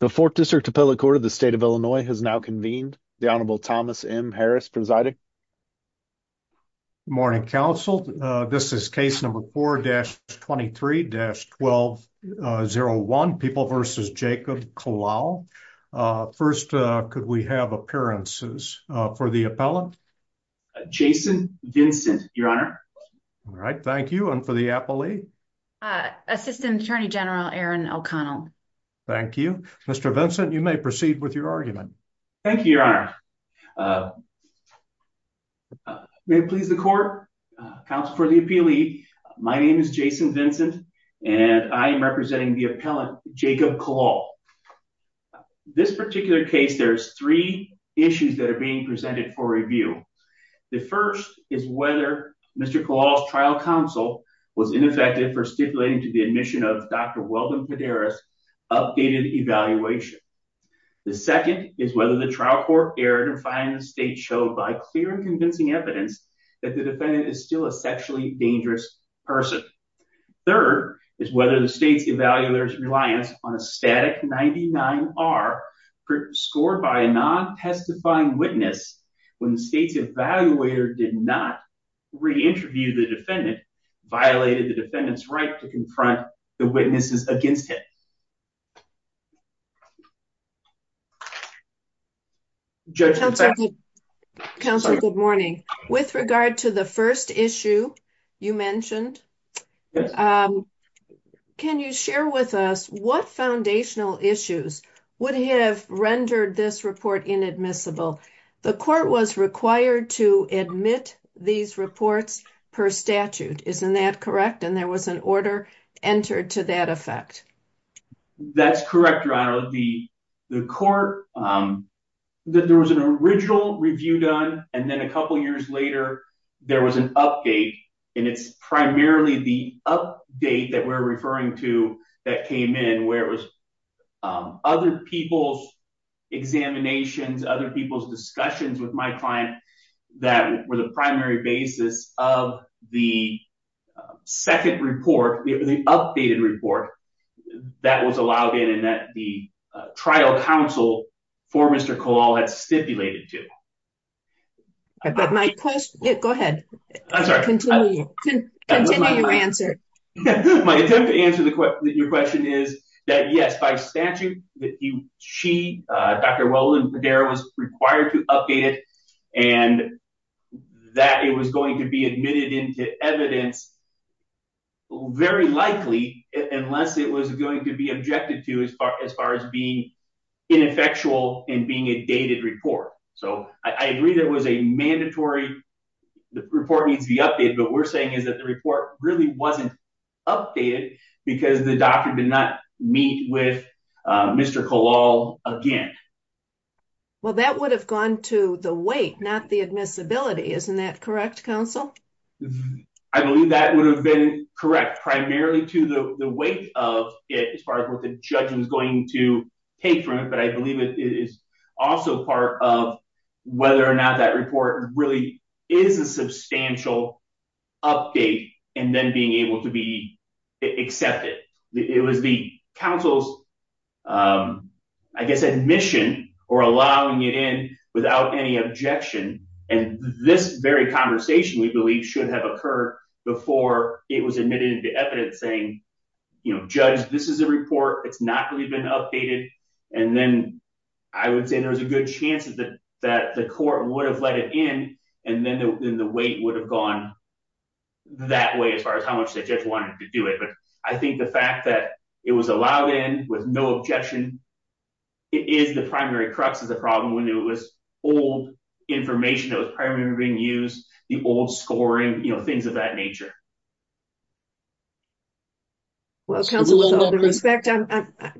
The fourth district appellate court of the state of Illinois has now convened. The honorable Thomas M. Harris presiding. Morning, counsel. This is case number 4-23-1201, People v. Jacob Kallal. First, could we have appearances for the appellant? Jason Vincent, your honor. All right, thank you. And for the appellee? Assistant Attorney General Aaron O'Connell. Thank you. Mr. Vincent, you may proceed with your argument. Thank you, your honor. May it please the court, counsel for the appellee, my name is Jason Vincent, and I am representing the appellant Jacob Kallal. This particular case, there's three issues that are being presented for review. The first is whether Mr. Kallal's trial counsel was ineffective for stipulating to the admission of Dr. Weldon Podera's updated evaluation. The second is whether the trial court error defined in the state showed by clear and convincing evidence that the defendant is still a sexually dangerous person. Third is whether the state's evaluator's reliance on a static 99R scored by a non-testifying witness when the state's evaluator did not re-interview the violated the defendant's right to confront the witnesses against him. Counsel, good morning. With regard to the first issue you mentioned, can you share with us what foundational issues would have rendered this report inadmissible? The court was required to admit these reports per statute, isn't that correct? And there was an order entered to that effect. That's correct, your honor. The court, there was an original review done, and then a couple years later there was an update. And it's primarily the update that we're referring to that came in where it was other people's examinations, other people's discussions with my client, that were the primary basis of the second report, the updated report, that was allowed in and that the trial counsel for Mr. Kalal had stipulated to. But my question, go ahead, continue your answer. My attempt to answer your question is that yes, by statute, that she, Dr. Roland-Pedera, was required to update it and that it was going to be admitted into evidence very likely unless it was going to be objected to as far as being ineffectual and being a dated report. So I agree there was a mandatory, the report needs to be updated, but what we're saying is that the report really wasn't updated because the doctor did not meet with Mr. Kalal again. Well, that would have gone to the weight, not the admissibility. Isn't that correct, counsel? I believe that would have been correct, primarily to the weight of it as far as what the judge was going to take from it, but I believe it is also part of whether or not that report really is a substantial update and then being able to be accepted. It was the counsel's, I guess, admission or allowing it in without any objection. And this very conversation, we believe, should have occurred before it was admitted into evidence saying, you know, judge, this is a report, it's not going to be updated. And then I would say there's a chance that the court would have let it in and then the weight would have gone that way as far as how much the judge wanted to do it. But I think the fact that it was allowed in with no objection, it is the primary crux of the problem when it was old information that was primarily being used, the old scoring, you know, things of that nature. Well, counsel, with all due respect,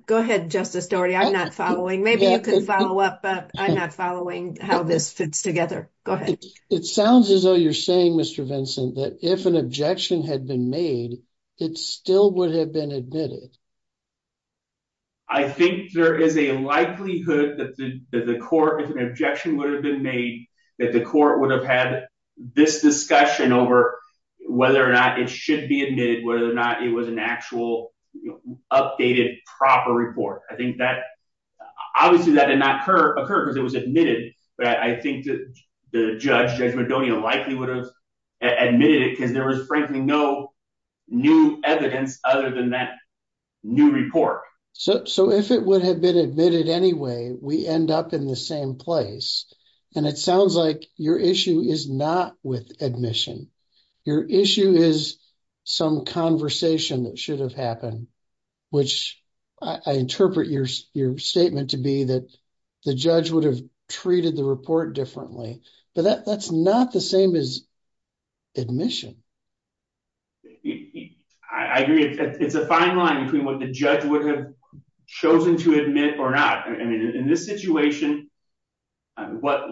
go ahead, Justice Doherty, I'm not following. Maybe you follow up, but I'm not following how this fits together. Go ahead. It sounds as though you're saying, Mr. Vincent, that if an objection had been made, it still would have been admitted. I think there is a likelihood that the court, if an objection would have been made, that the court would have had this discussion over whether or not it should be admitted, whether or not it was an actual, updated, proper report. I think that, obviously, that did not occur because it was admitted. But I think that the judge, Judge Madonio, likely would have admitted it because there was, frankly, no new evidence other than that new report. So if it would have been admitted anyway, we end up in the same place. And it sounds like your issue is not with admission. Your issue is some conversation that should have happened, which I interpret your statement to be that the judge would have treated the report differently. But that's not the same as admission. I agree. It's a fine line between what the judge would have chosen to admit or not. I mean, in this situation, what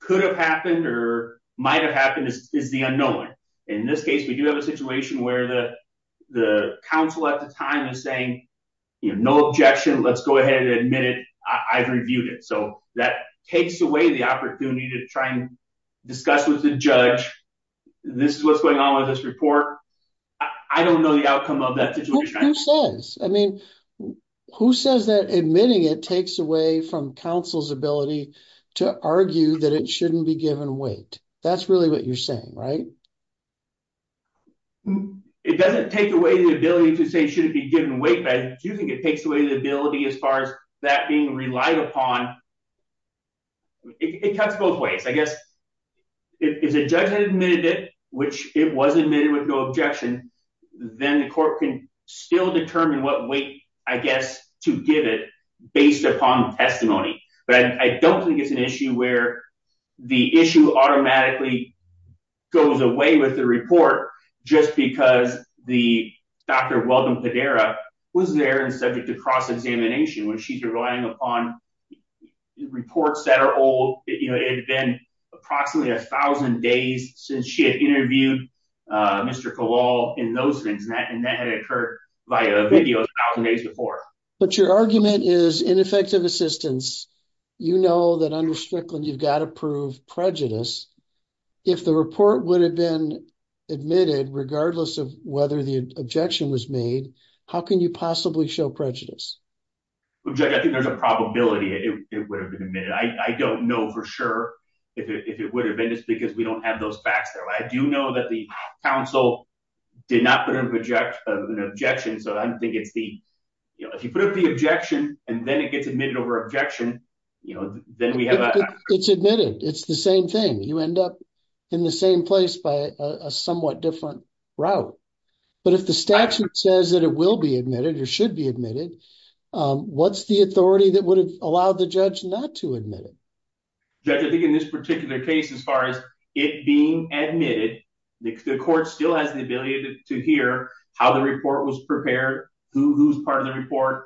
could have happened or might have happened is the unknowing. In this case, we do have a situation where the counsel at the time is saying, no objection. Let's go ahead and admit it. I've reviewed it. So that takes away the opportunity to try and discuss with the judge, this is what's going on with this report. I don't know the outcome of that situation. Who says? I mean, who says that admitting it takes away from counsel's ability to argue that it shouldn't be given weight? That's really what you're saying, right? It doesn't take away the ability to say it shouldn't be given weight. I do think it takes away the ability as far as that being relied upon. It cuts both ways. I guess, if the judge had admitted it, which it was admitted with no objection, then the court can still determine what weight, I guess, to give it based upon the testimony. But I don't think it's an issue where the issue automatically goes away with the report just because Dr. Weldon-Pedera was there and subject to cross-examination when she's relying upon reports that are old. It had been approximately a thousand days since she had interviewed Mr. Kowal in those things, and that had occurred via a video a thousand days before. But your argument is ineffective assistance. You know that under Strickland, you've got to prove prejudice. If the report would have been admitted, regardless of whether the objection was made, how can you possibly show prejudice? I think there's a probability it would have been admitted. I don't know for sure if it would have been, just because we don't have those facts there. I do know that the counsel did not put an objection, so I don't think it's the... If you put up the objection and then it gets admitted over objection, then we have a... It's admitted. It's the same thing. You end up in the same place by a somewhat different route. But if the statute says that it will be admitted or should be admitted, what's the authority that would have allowed the judge not to admit it? Judge, I think in this particular case, as far as it being admitted, the court still has the ability to hear how the report was prepared, who's part of the report,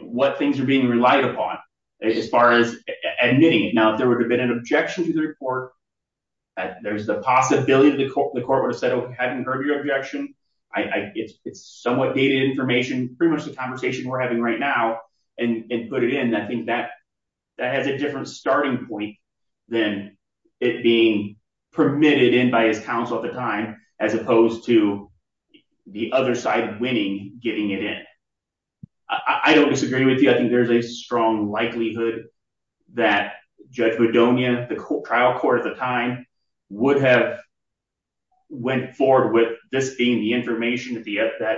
what things are being relied upon as far as admitting it. Now, if there would have been an objection to the report, there's the possibility the court would have said, oh, we haven't heard your objection. It's somewhat dated information, pretty much the conversation we're having right now, and put it in. I think that has a different starting point than it being permitted in by his counsel at the time, as opposed to the other side winning, getting it in. I don't disagree with you. I think there's a strong likelihood that Judge Bodonia, the trial court at the time, would have went forward with this being the information that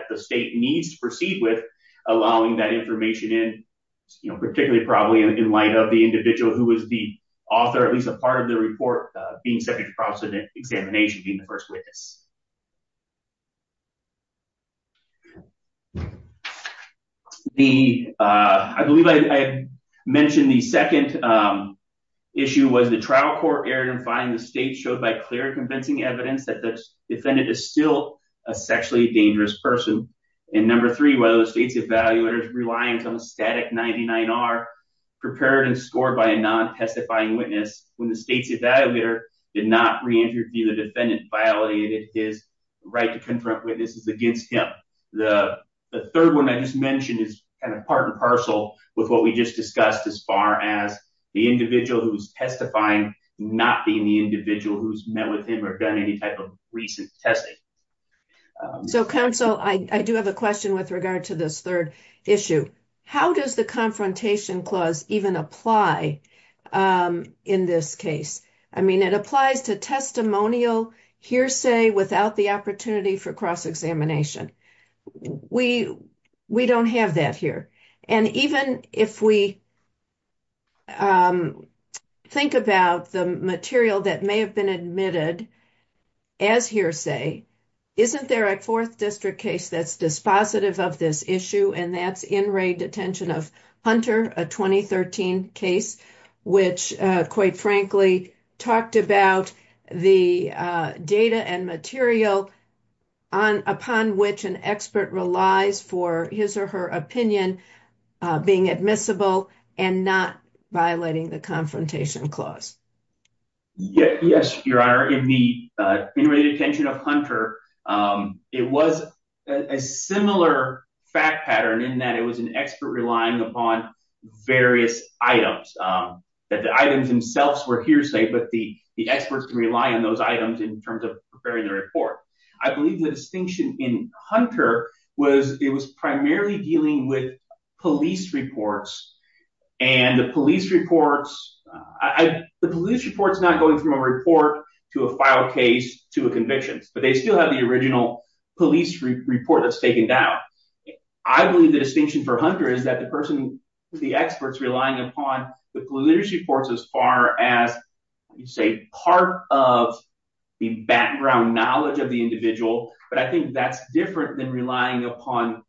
the state needs to proceed with, allowing that information in, particularly, probably, in light of the individual who was the author, at least a part of the report, being subject to process of examination, being the first witness. I believe I mentioned the second issue was the trial court erred in finding the state showed by clear and convincing evidence that the defendant is still a sexually dangerous person. And number three, whether the state's evaluator is relying on a static 99R, prepared and scored by a non-testifying witness, when the state's evaluator did not reinterview the defendant, violated his right to confront witnesses against him. The third one I just mentioned is kind of part and parcel with what we just discussed as far as the individual who's testifying not being the individual who's met with him or done any type of recent testing. So, counsel, I do have a question with regard to this third issue. How does the confrontation clause even apply in this case? I mean, it applies to testimonial hearsay without the opportunity for cross-examination. We don't have that here. And even if we think about the material that may have been admitted as hearsay, isn't there a fourth district case that's dispositive of this issue? And that's in raid detention of Hunter, a 2013 case, which quite frankly talked about the data and material upon which an expert relies for his or her opinion being admissible and not violating the confrontation clause. Yes, Your Honor. In the in raid detention of Hunter, it was a similar fact pattern in that it was an expert relying upon various items. The items themselves were hearsay, but the experts can rely on those items in terms of preparing the report. I believe the distinction in Hunter was it was primarily dealing with police reports. And the police reports, the police report's not going from a report to a file case to a conviction, but they still have the original police report that's taken down. I believe the distinction for Hunter is that the person, the experts relying upon the police reports as far as, let's say, part of the background knowledge of the individual. But I think that's different than relying upon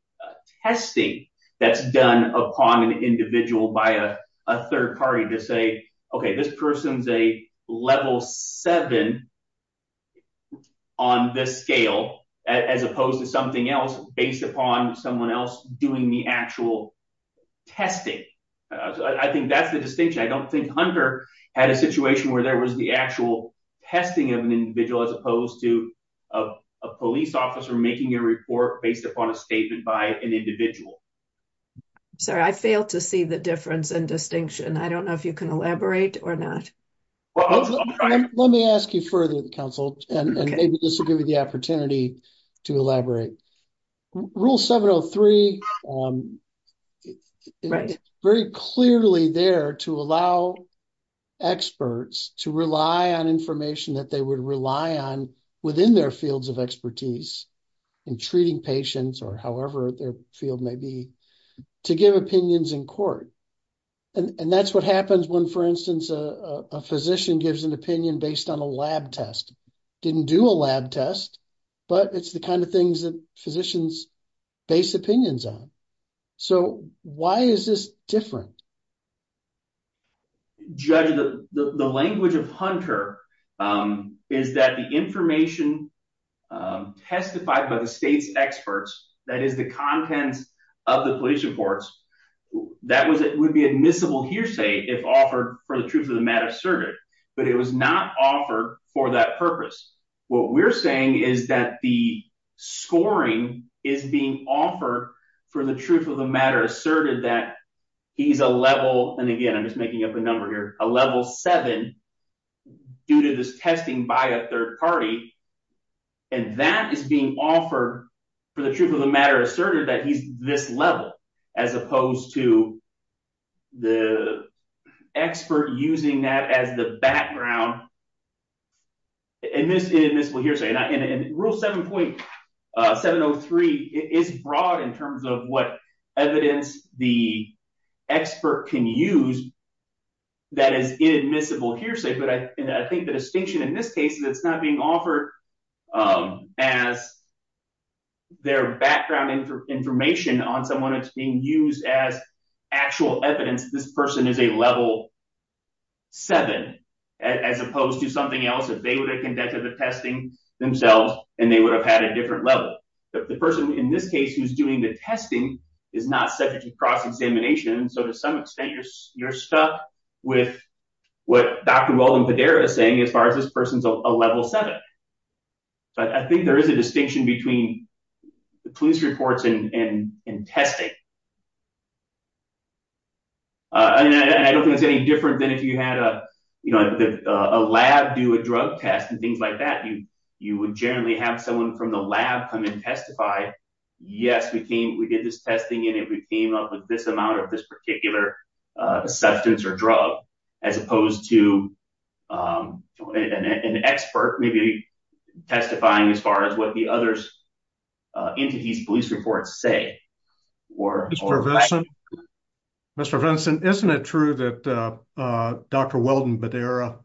testing that's done upon an individual by a third party to say, okay, this person's a level seven on this scale, as opposed to something else based upon someone else doing the actual testing. I think that's the distinction. I don't think Hunter had a situation where there was the testing of an individual as opposed to a police officer making a report based upon a statement by an individual. Sorry, I failed to see the difference in distinction. I don't know if you can elaborate or not. Let me ask you further, counsel, and maybe this will give you the that they would rely on within their fields of expertise in treating patients or however their field may be, to give opinions in court. And that's what happens when, for instance, a physician gives an opinion based on a lab test. Didn't do a lab test, but it's the kind of things that physicians base opinions on. So why is this different? Judge, the language of Hunter is that the information testified by the state's experts, that is the contents of the police reports, that would be admissible hearsay if offered for the truth of the matter asserted. But it was not offered for that purpose. What we're saying is the scoring is being offered for the truth of the matter asserted that he's a level, and again I'm just making up a number here, a level seven due to this testing by a third party, and that is being offered for the truth of the matter asserted that he's this level as opposed to the expert using that as the background. And this inadmissible hearsay, and rule 7.703 is broad in terms of what evidence the expert can use that is inadmissible hearsay. But I think the distinction in this case is it's not being offered as their background information on someone that's being used as actual evidence this person is a level seven as opposed to something else that they would have conducted the testing themselves and they would have had a different level. The person in this case who's doing the testing is not subject to cross examination, so to some extent you're stuck with what Dr. Walden-Pedera is saying as far as this a level seven. But I think there is a distinction between the police reports and testing. I don't think it's any different than if you had a lab do a drug test and things like that. You would generally have someone from the lab come and testify, yes we did this testing and we came up with this amount of this particular substance or drug as opposed to an expert maybe testifying as far as what the other entities police reports say. Mr. Vinson, isn't it true that Dr. Walden-Pedera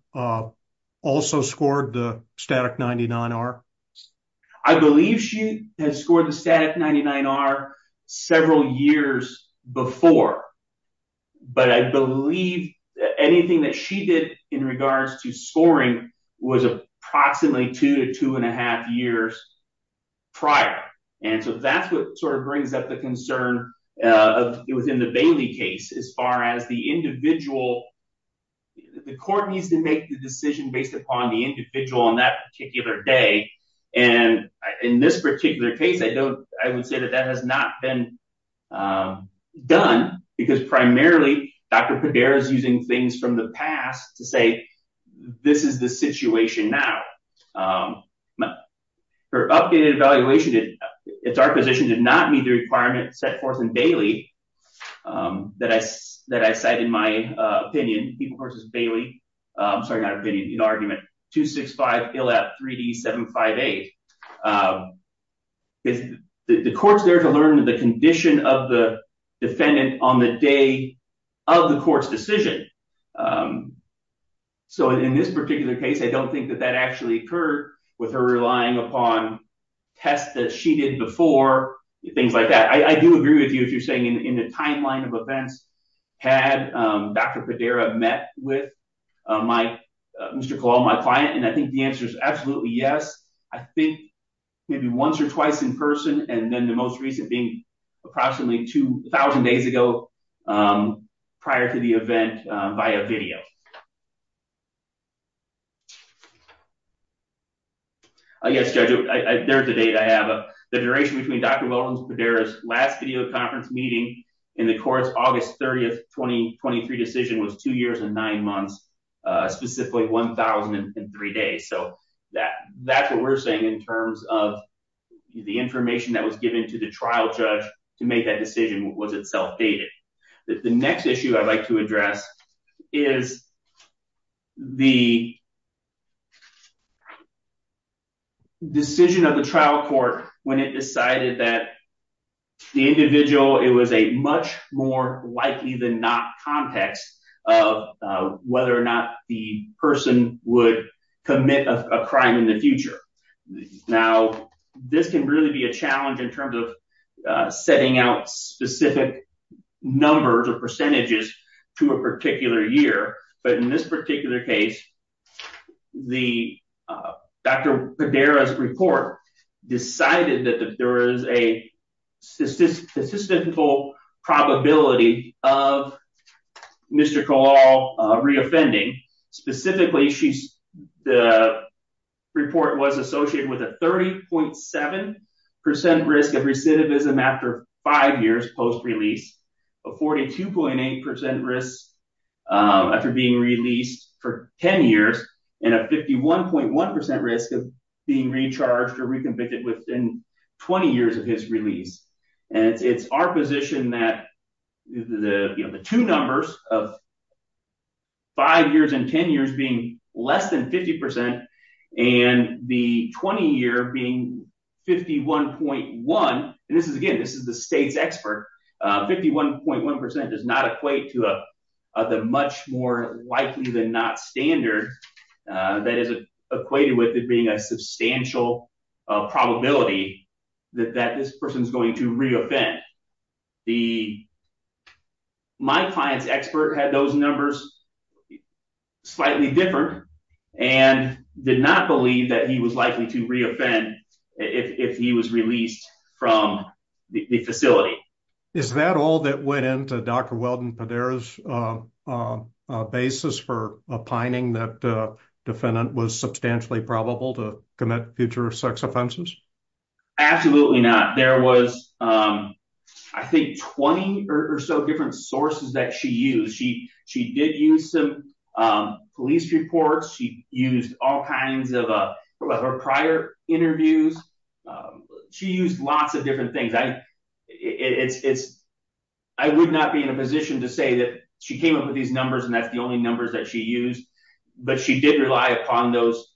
also scored the static 99R? I believe she has scored the static 99R several years before but I believe anything that she did in regards to scoring was approximately two to two and a half years prior and so that's what sort of brings up the concern within the Bailey case as far as the individual. The court needs to make the decision based upon the individual on that particular day and in this particular case I don't I would say that has not been done because primarily Dr. Pedera is using things from the past to say this is the situation now. For updated evaluation it's our position to not meet the requirements set forth in Bailey that I cite in my opinion. People versus Bailey, I'm sorry not opinion, argument 265 ILAP 3D758. The court's there to learn the condition of the defendant on the day of the court's decision so in this particular case I don't think that that actually occurred with her relying upon tests that she did before, things like that. I do agree with you if you're timeline of events had Dr. Pedera met with my Mr. Collall, my client, and I think the answer is absolutely yes. I think maybe once or twice in person and then the most recent being approximately 2,000 days ago prior to the event via video. I guess there's a date I have the duration between Dr. Mullins and Pedera's last video conference meeting and the court's August 30, 2023 decision was two years and nine months, specifically 1,003 days. So that's what we're saying in terms of the information that was given to the trial judge to make that decision was itself dated. The next issue I'd like to address is the decision of the trial court when it decided that the individual it was a much more likely than not context of whether or not the person would commit a crime in the future. Now this can really be a in terms of setting out specific numbers or percentages to a particular year, but in this particular case the Dr. Pedera's report decided that there is a statistical probability of Mr. Kowal re-offending. Specifically the report was associated with a 30.7 percent risk of recidivism after five years post-release, a 42.8 percent risk after being released for 10 years, and a 51.1 percent risk of being recharged or reconvicted within 20 years of his release. And it's our position that the two numbers of five years and 10 years being less than 50 percent and the 20 year being 51.1, and this is again this is the state's expert, 51.1 percent does not equate to the much more likely than not standard that is equated with it being a substantial probability that this person is going to re-offend. My client's expert had those numbers slightly different and did not believe that he was likely to re-offend if he was released from the facility. Is that all that went into Dr. Weldon-Pedera's basis for opining that defendant was substantially probable to commit future sex offenses? Absolutely not. There was I think 20 or so different sources that she used. She did use some police reports, she used all kinds of her prior interviews, she used lots of different things. I would not be in a position to say that she came up with these numbers and that's the only numbers that she used, but she did rely upon those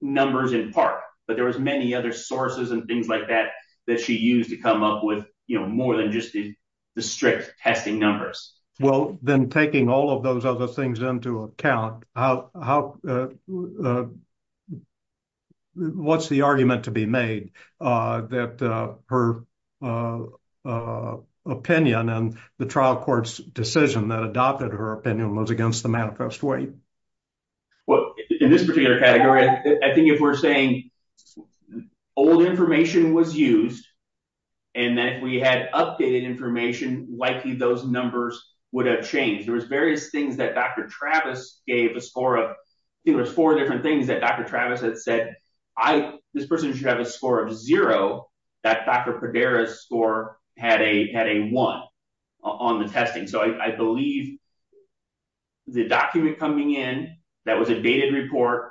numbers in part, but there was many other sources and things like that that she used to come up with more than just the strict testing numbers. Well then taking all of those other things into account, what's the argument to be made that her opinion and the Well, in this particular category, I think if we're saying old information was used and that if we had updated information, likely those numbers would have changed. There was various things that Dr. Travis gave a score of. I think there's four different things that Dr. Travis had said, this person should have a score of zero that Dr. Pedera's score had a one on the was a dated report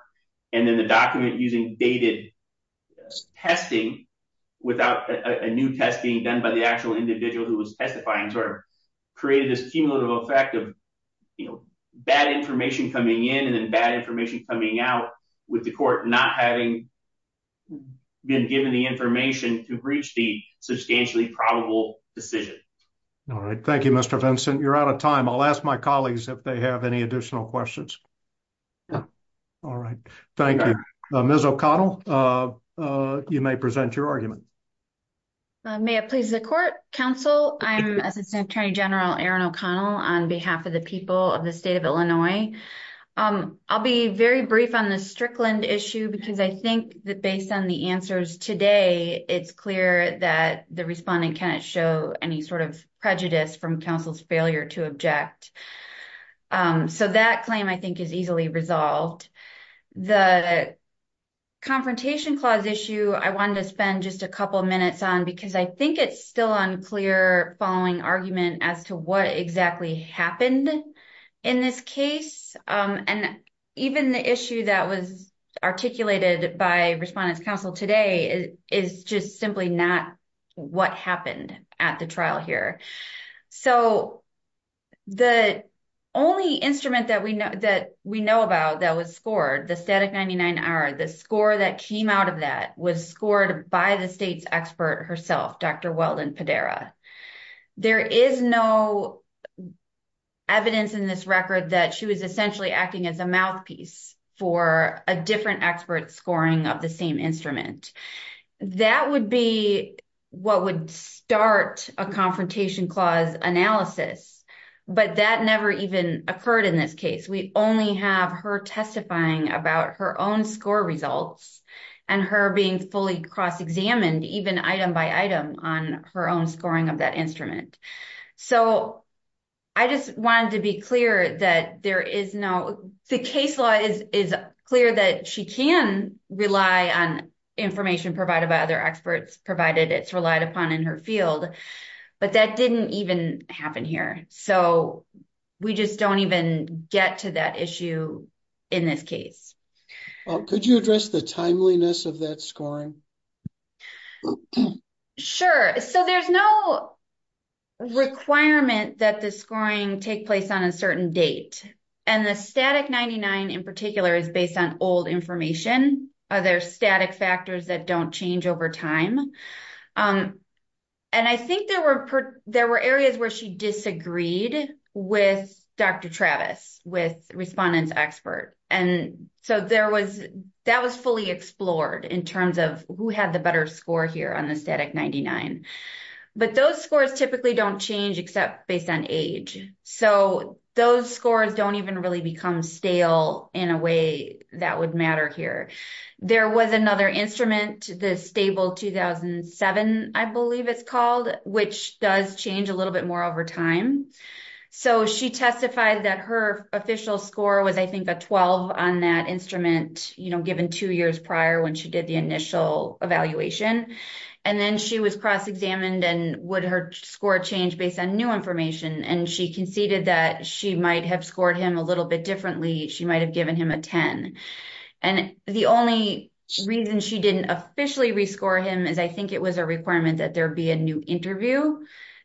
and then the document using dated testing without a new test being done by the actual individual who was testifying sort of created this cumulative effect of bad information coming in and then bad information coming out with the court not having been given the information to breach the substantially probable decision. All right. Thank you, Mr. Vincent. You're out of time. I'll ask my colleagues if they have any additional questions. All right. Thank you. Ms. O'Connell, you may present your argument. May it please the court. Counsel, I'm Assistant Attorney General Erin O'Connell on behalf of the people of the state of Illinois. I'll be very brief on the Strickland issue because I think that based on the answers today, it's clear that the respondent cannot show any sort of prejudice from counsel's failure to object. So that claim, I think, is easily resolved. The Confrontation Clause issue, I wanted to spend just a couple of minutes on because I think it's still unclear following argument as to what exactly happened in this case. And even the issue that was articulated by Respondent's Counsel today is just simply not what happened at the trial here. So the only instrument that we know about that was scored, the Static-99R, the score that came out of that was scored by the state's expert herself, Dr. Weldon-Padera. There is no evidence in this record that she was essentially acting as a mouthpiece for a different expert scoring of the analysis, but that never even occurred in this case. We only have her testifying about her own score results and her being fully cross-examined, even item by item, on her own scoring of that instrument. So I just wanted to be clear that there is no, the case law is clear that she can rely on information provided by other experts, provided it's relied upon in her field, but that didn't even happen here. So we just don't even get to that issue in this case. Could you address the timeliness of that scoring? Sure. So there's no requirement that the scoring take place on a certain date. And the Static-99 in particular is based on old information, other static factors that don't change over time. And I think there were areas where she disagreed with Dr. Travis, with respondent's expert. And so that was fully explored in terms of who had the better score here on the Static-99. But those scores typically don't change except based on age. So those scores don't even really become stale in a way that would matter here. There was another instrument, the Stable 2007, I believe it's called, which does change a little bit more over time. So she testified that her official score was, I think, a 12 on that instrument, given two years prior when she did the initial evaluation. And then she was cross-examined and would her score change based on new information. And she conceded that she might have scored him a little bit differently. She might have given him a 10. And the only reason she didn't officially re-score him is, I think it was a requirement that there be a new interview.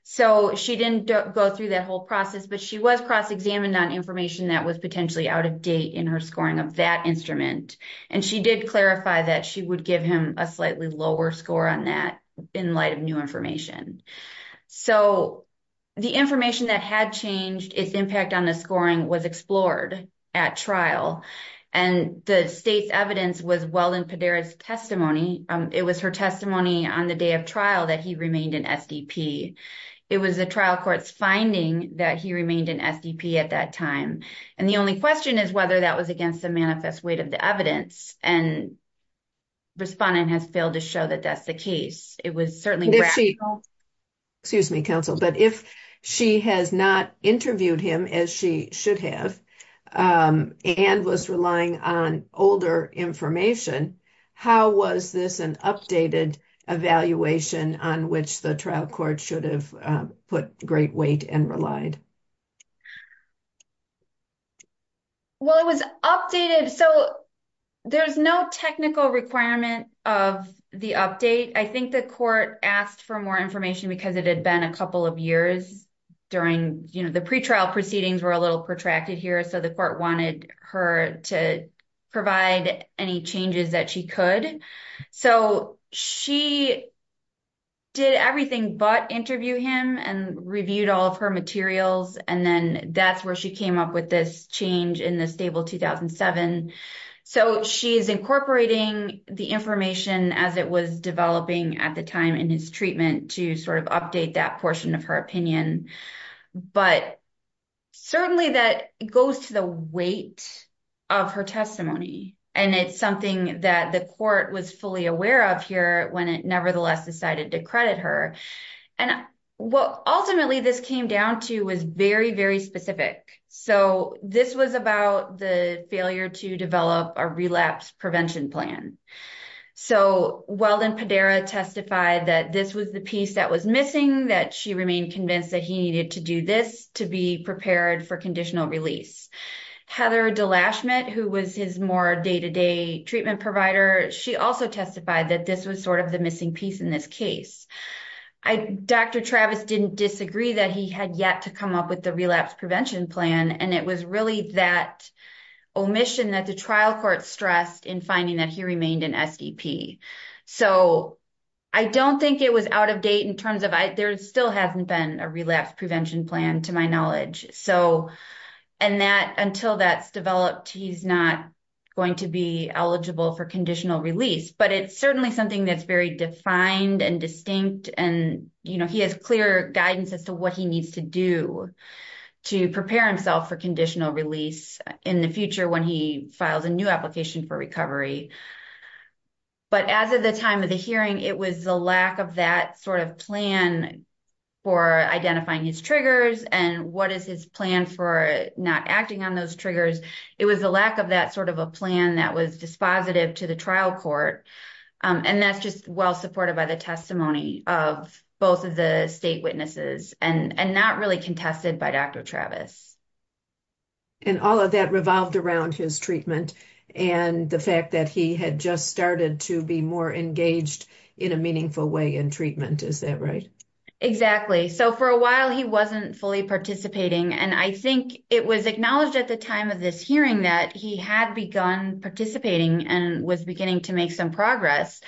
So she didn't go through that whole process, but she was cross-examined on information that was potentially out of date in her scoring of that instrument. And she did clarify that she would give him a slightly lower score on that in light of new information. So the information that had changed its impact on the scoring was explored at trial. And the state's evidence was well in Padera's testimony. It was her testimony on the day of trial that he remained in SDP. It was the trial court's finding that he remained in SDP at that time. And the only question is whether that was against the manifest weight of evidence. And respondent has failed to show that that's the case. It was certainly- Excuse me, counsel. But if she has not interviewed him as she should have, and was relying on older information, how was this an updated evaluation on which the trial court should have put great weight and relied? Well, it was updated. So there's no technical requirement of the update. I think the court asked for more information because it had been a couple of years during, you know, the pre-trial proceedings were a little protracted here. So the court wanted her to provide any changes that she could. So she did everything but interview him and reviewed all of her materials. And then that's where she came up with this change in the stable 2007. So she's incorporating the information as it was developing at the time in his treatment to sort of update that portion of her opinion. But certainly that goes to the weight of her testimony. And it's something that the court was fully aware of here when it nevertheless decided to credit her. And what ultimately this came down to was very, very specific. So this was about the failure to develop a relapse prevention plan. So Weldon Padera testified that this was the piece that was missing, that she remained convinced that he needed to do this to be prepared for conditional release. Heather DeLashmet, who was his more day-to-day treatment provider, she also testified that this was sort of the missing piece in this case. Dr. Travis didn't disagree that he had yet to come up with the relapse prevention plan. And it was really that omission that the trial court stressed in finding that he remained in SEP. So I don't think it was out of date in terms of, there still hasn't been a relapse prevention plan to my knowledge. So, and that until that's developed, he's not going to be eligible for conditional release. But it's certainly something that's very defined and distinct. And he has clear guidance as to what he needs to do to prepare himself for conditional release in the future when he files a new application for recovery. But as of the time of the hearing, it was the lack of that sort of plan for identifying his triggers and what is his plan for not acting on those triggers. It was the lack of that sort of a plan that was dispositive to the trial court. And that's just well supported by the testimony of both of the state witnesses and not really contested by Dr. Travis. And all of that revolved around his treatment and the fact that he had just started to be more engaged in a meaningful way in treatment. Is that right? Exactly. So for a while he wasn't fully participating. And I think it was acknowledged at the time of this hearing that he had begun participating and was beginning to make some progress.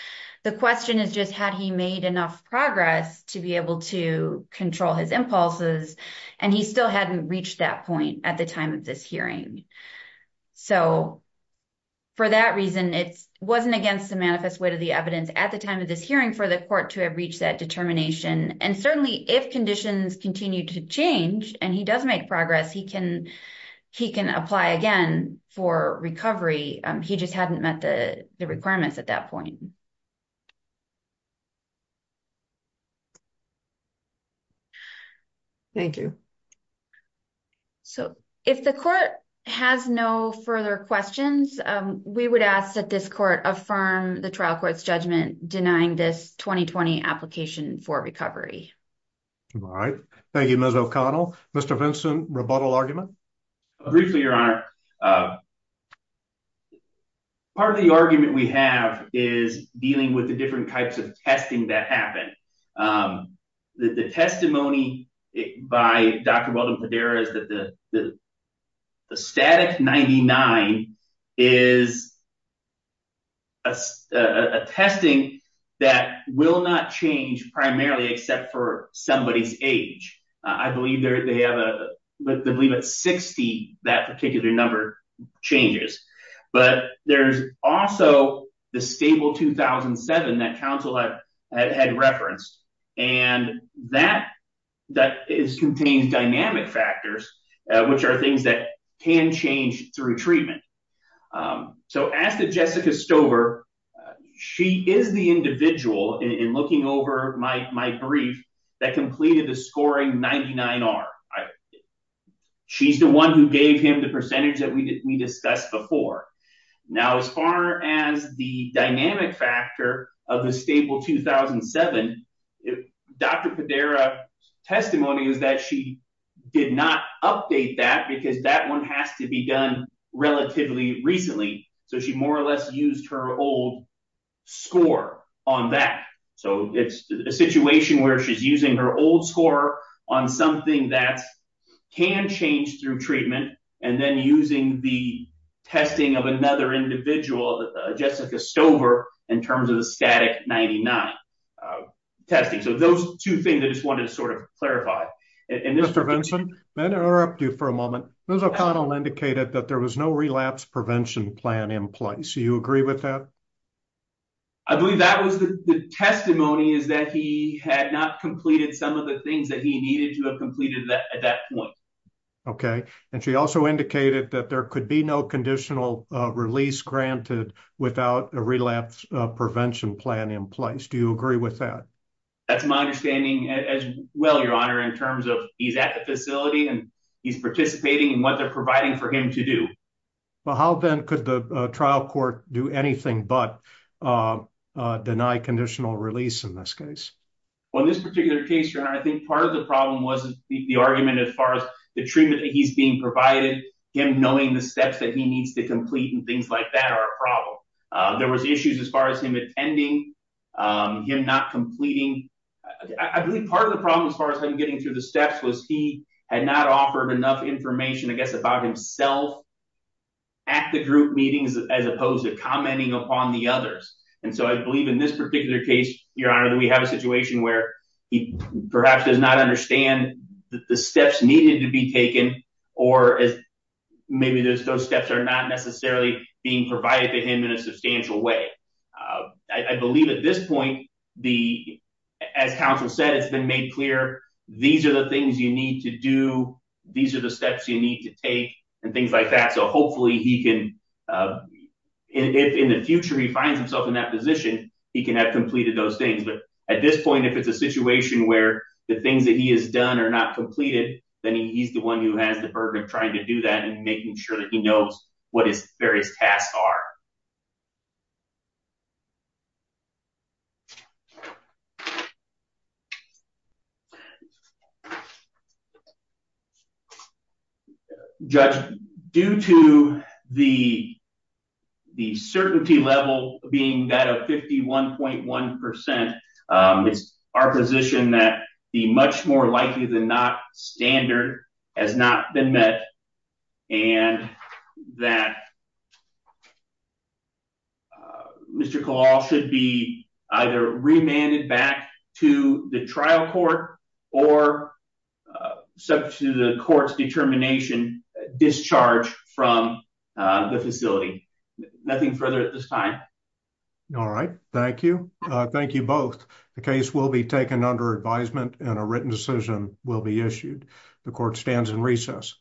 The question is just, had he made enough progress to be able to control his impulses? And he still hadn't reached that point at the time of this hearing. So for that reason, it wasn't against the manifest weight of the evidence at the time of this hearing for the court to have reached that determination. And certainly if conditions continue to change and he does make progress, he can apply again for recovery. He just hadn't met the requirements at that point. Thank you. So if the court has no further questions, we would ask that this court affirm the trial court's judgment denying this 2020 application for recovery. All right. Thank you, Ms. O'Connell. Mr. Vincent, rebuttal argument? Briefly, Your Honor. Part of the argument we have is dealing with the different types of poderas. The static 99 is a testing that will not change primarily except for somebody's age. I believe they have 60, that particular number changes. But there's also the stable 2007 that counsel had referenced. And that contains dynamic factors, which are things that can change through treatment. So as to Jessica Stover, she is the individual, in looking over my brief, that completed the scoring 99-R. She's the one who gave him the percentage that we discussed before. Now, as far as the dynamic factor of the stable 2007, Dr. Podera's testimony is that she did not update that because that one has to be done relatively recently. So she more or less used her old score on that. So it's a can change through treatment, and then using the testing of another individual, Jessica Stover, in terms of the static 99 testing. So those two things I just wanted to sort of clarify. And Mr. Vincent, may I interrupt you for a moment? Ms. O'Connell indicated that there was no relapse prevention plan in place. Do you agree with that? I believe that was the testimony is that he had not completed some of the things that he needed to have completed at that point. Okay. And she also indicated that there could be no conditional release granted without a relapse prevention plan in place. Do you agree with that? That's my understanding as well, Your Honor, in terms of he's at the facility and he's participating in what they're providing for him to do. Well, how then could the trial court do anything but deny conditional release in this case? Well, in this particular case, Your Honor, I think part of the problem was the argument as far as the treatment that he's being provided, him knowing the steps that he needs to complete and things like that are a problem. There was issues as far as him attending, him not completing. I believe part of the problem as far as him getting through the steps was he had not offered enough information, I guess, about himself at the group meetings as opposed to commenting upon the others. And so I believe in this particular case, Your Honor, that we have a situation where he perhaps does not understand the steps needed to be taken, or maybe those steps are not necessarily being provided to him in a substantial way. I believe at this point, as counsel said, it's been made clear, these are the things you need to do, these are the steps you need to take, and things like that. So he can have completed those things. But at this point, if it's a situation where the things that he has done are not completed, then he's the one who has the burden of trying to do that and making sure that he knows what his various tasks are. Judge, due to the certainty level being that of 51.1%, it's our position that the much more likely than not standard has not been met, and that Mr. Kalal should be either remanded back to the trial court or subject to the court's determination, discharged from the facility. Nothing further at this time. All right. Thank you. Thank you both. The case will be taken under advisement and a written decision will be issued. The court stands in recess.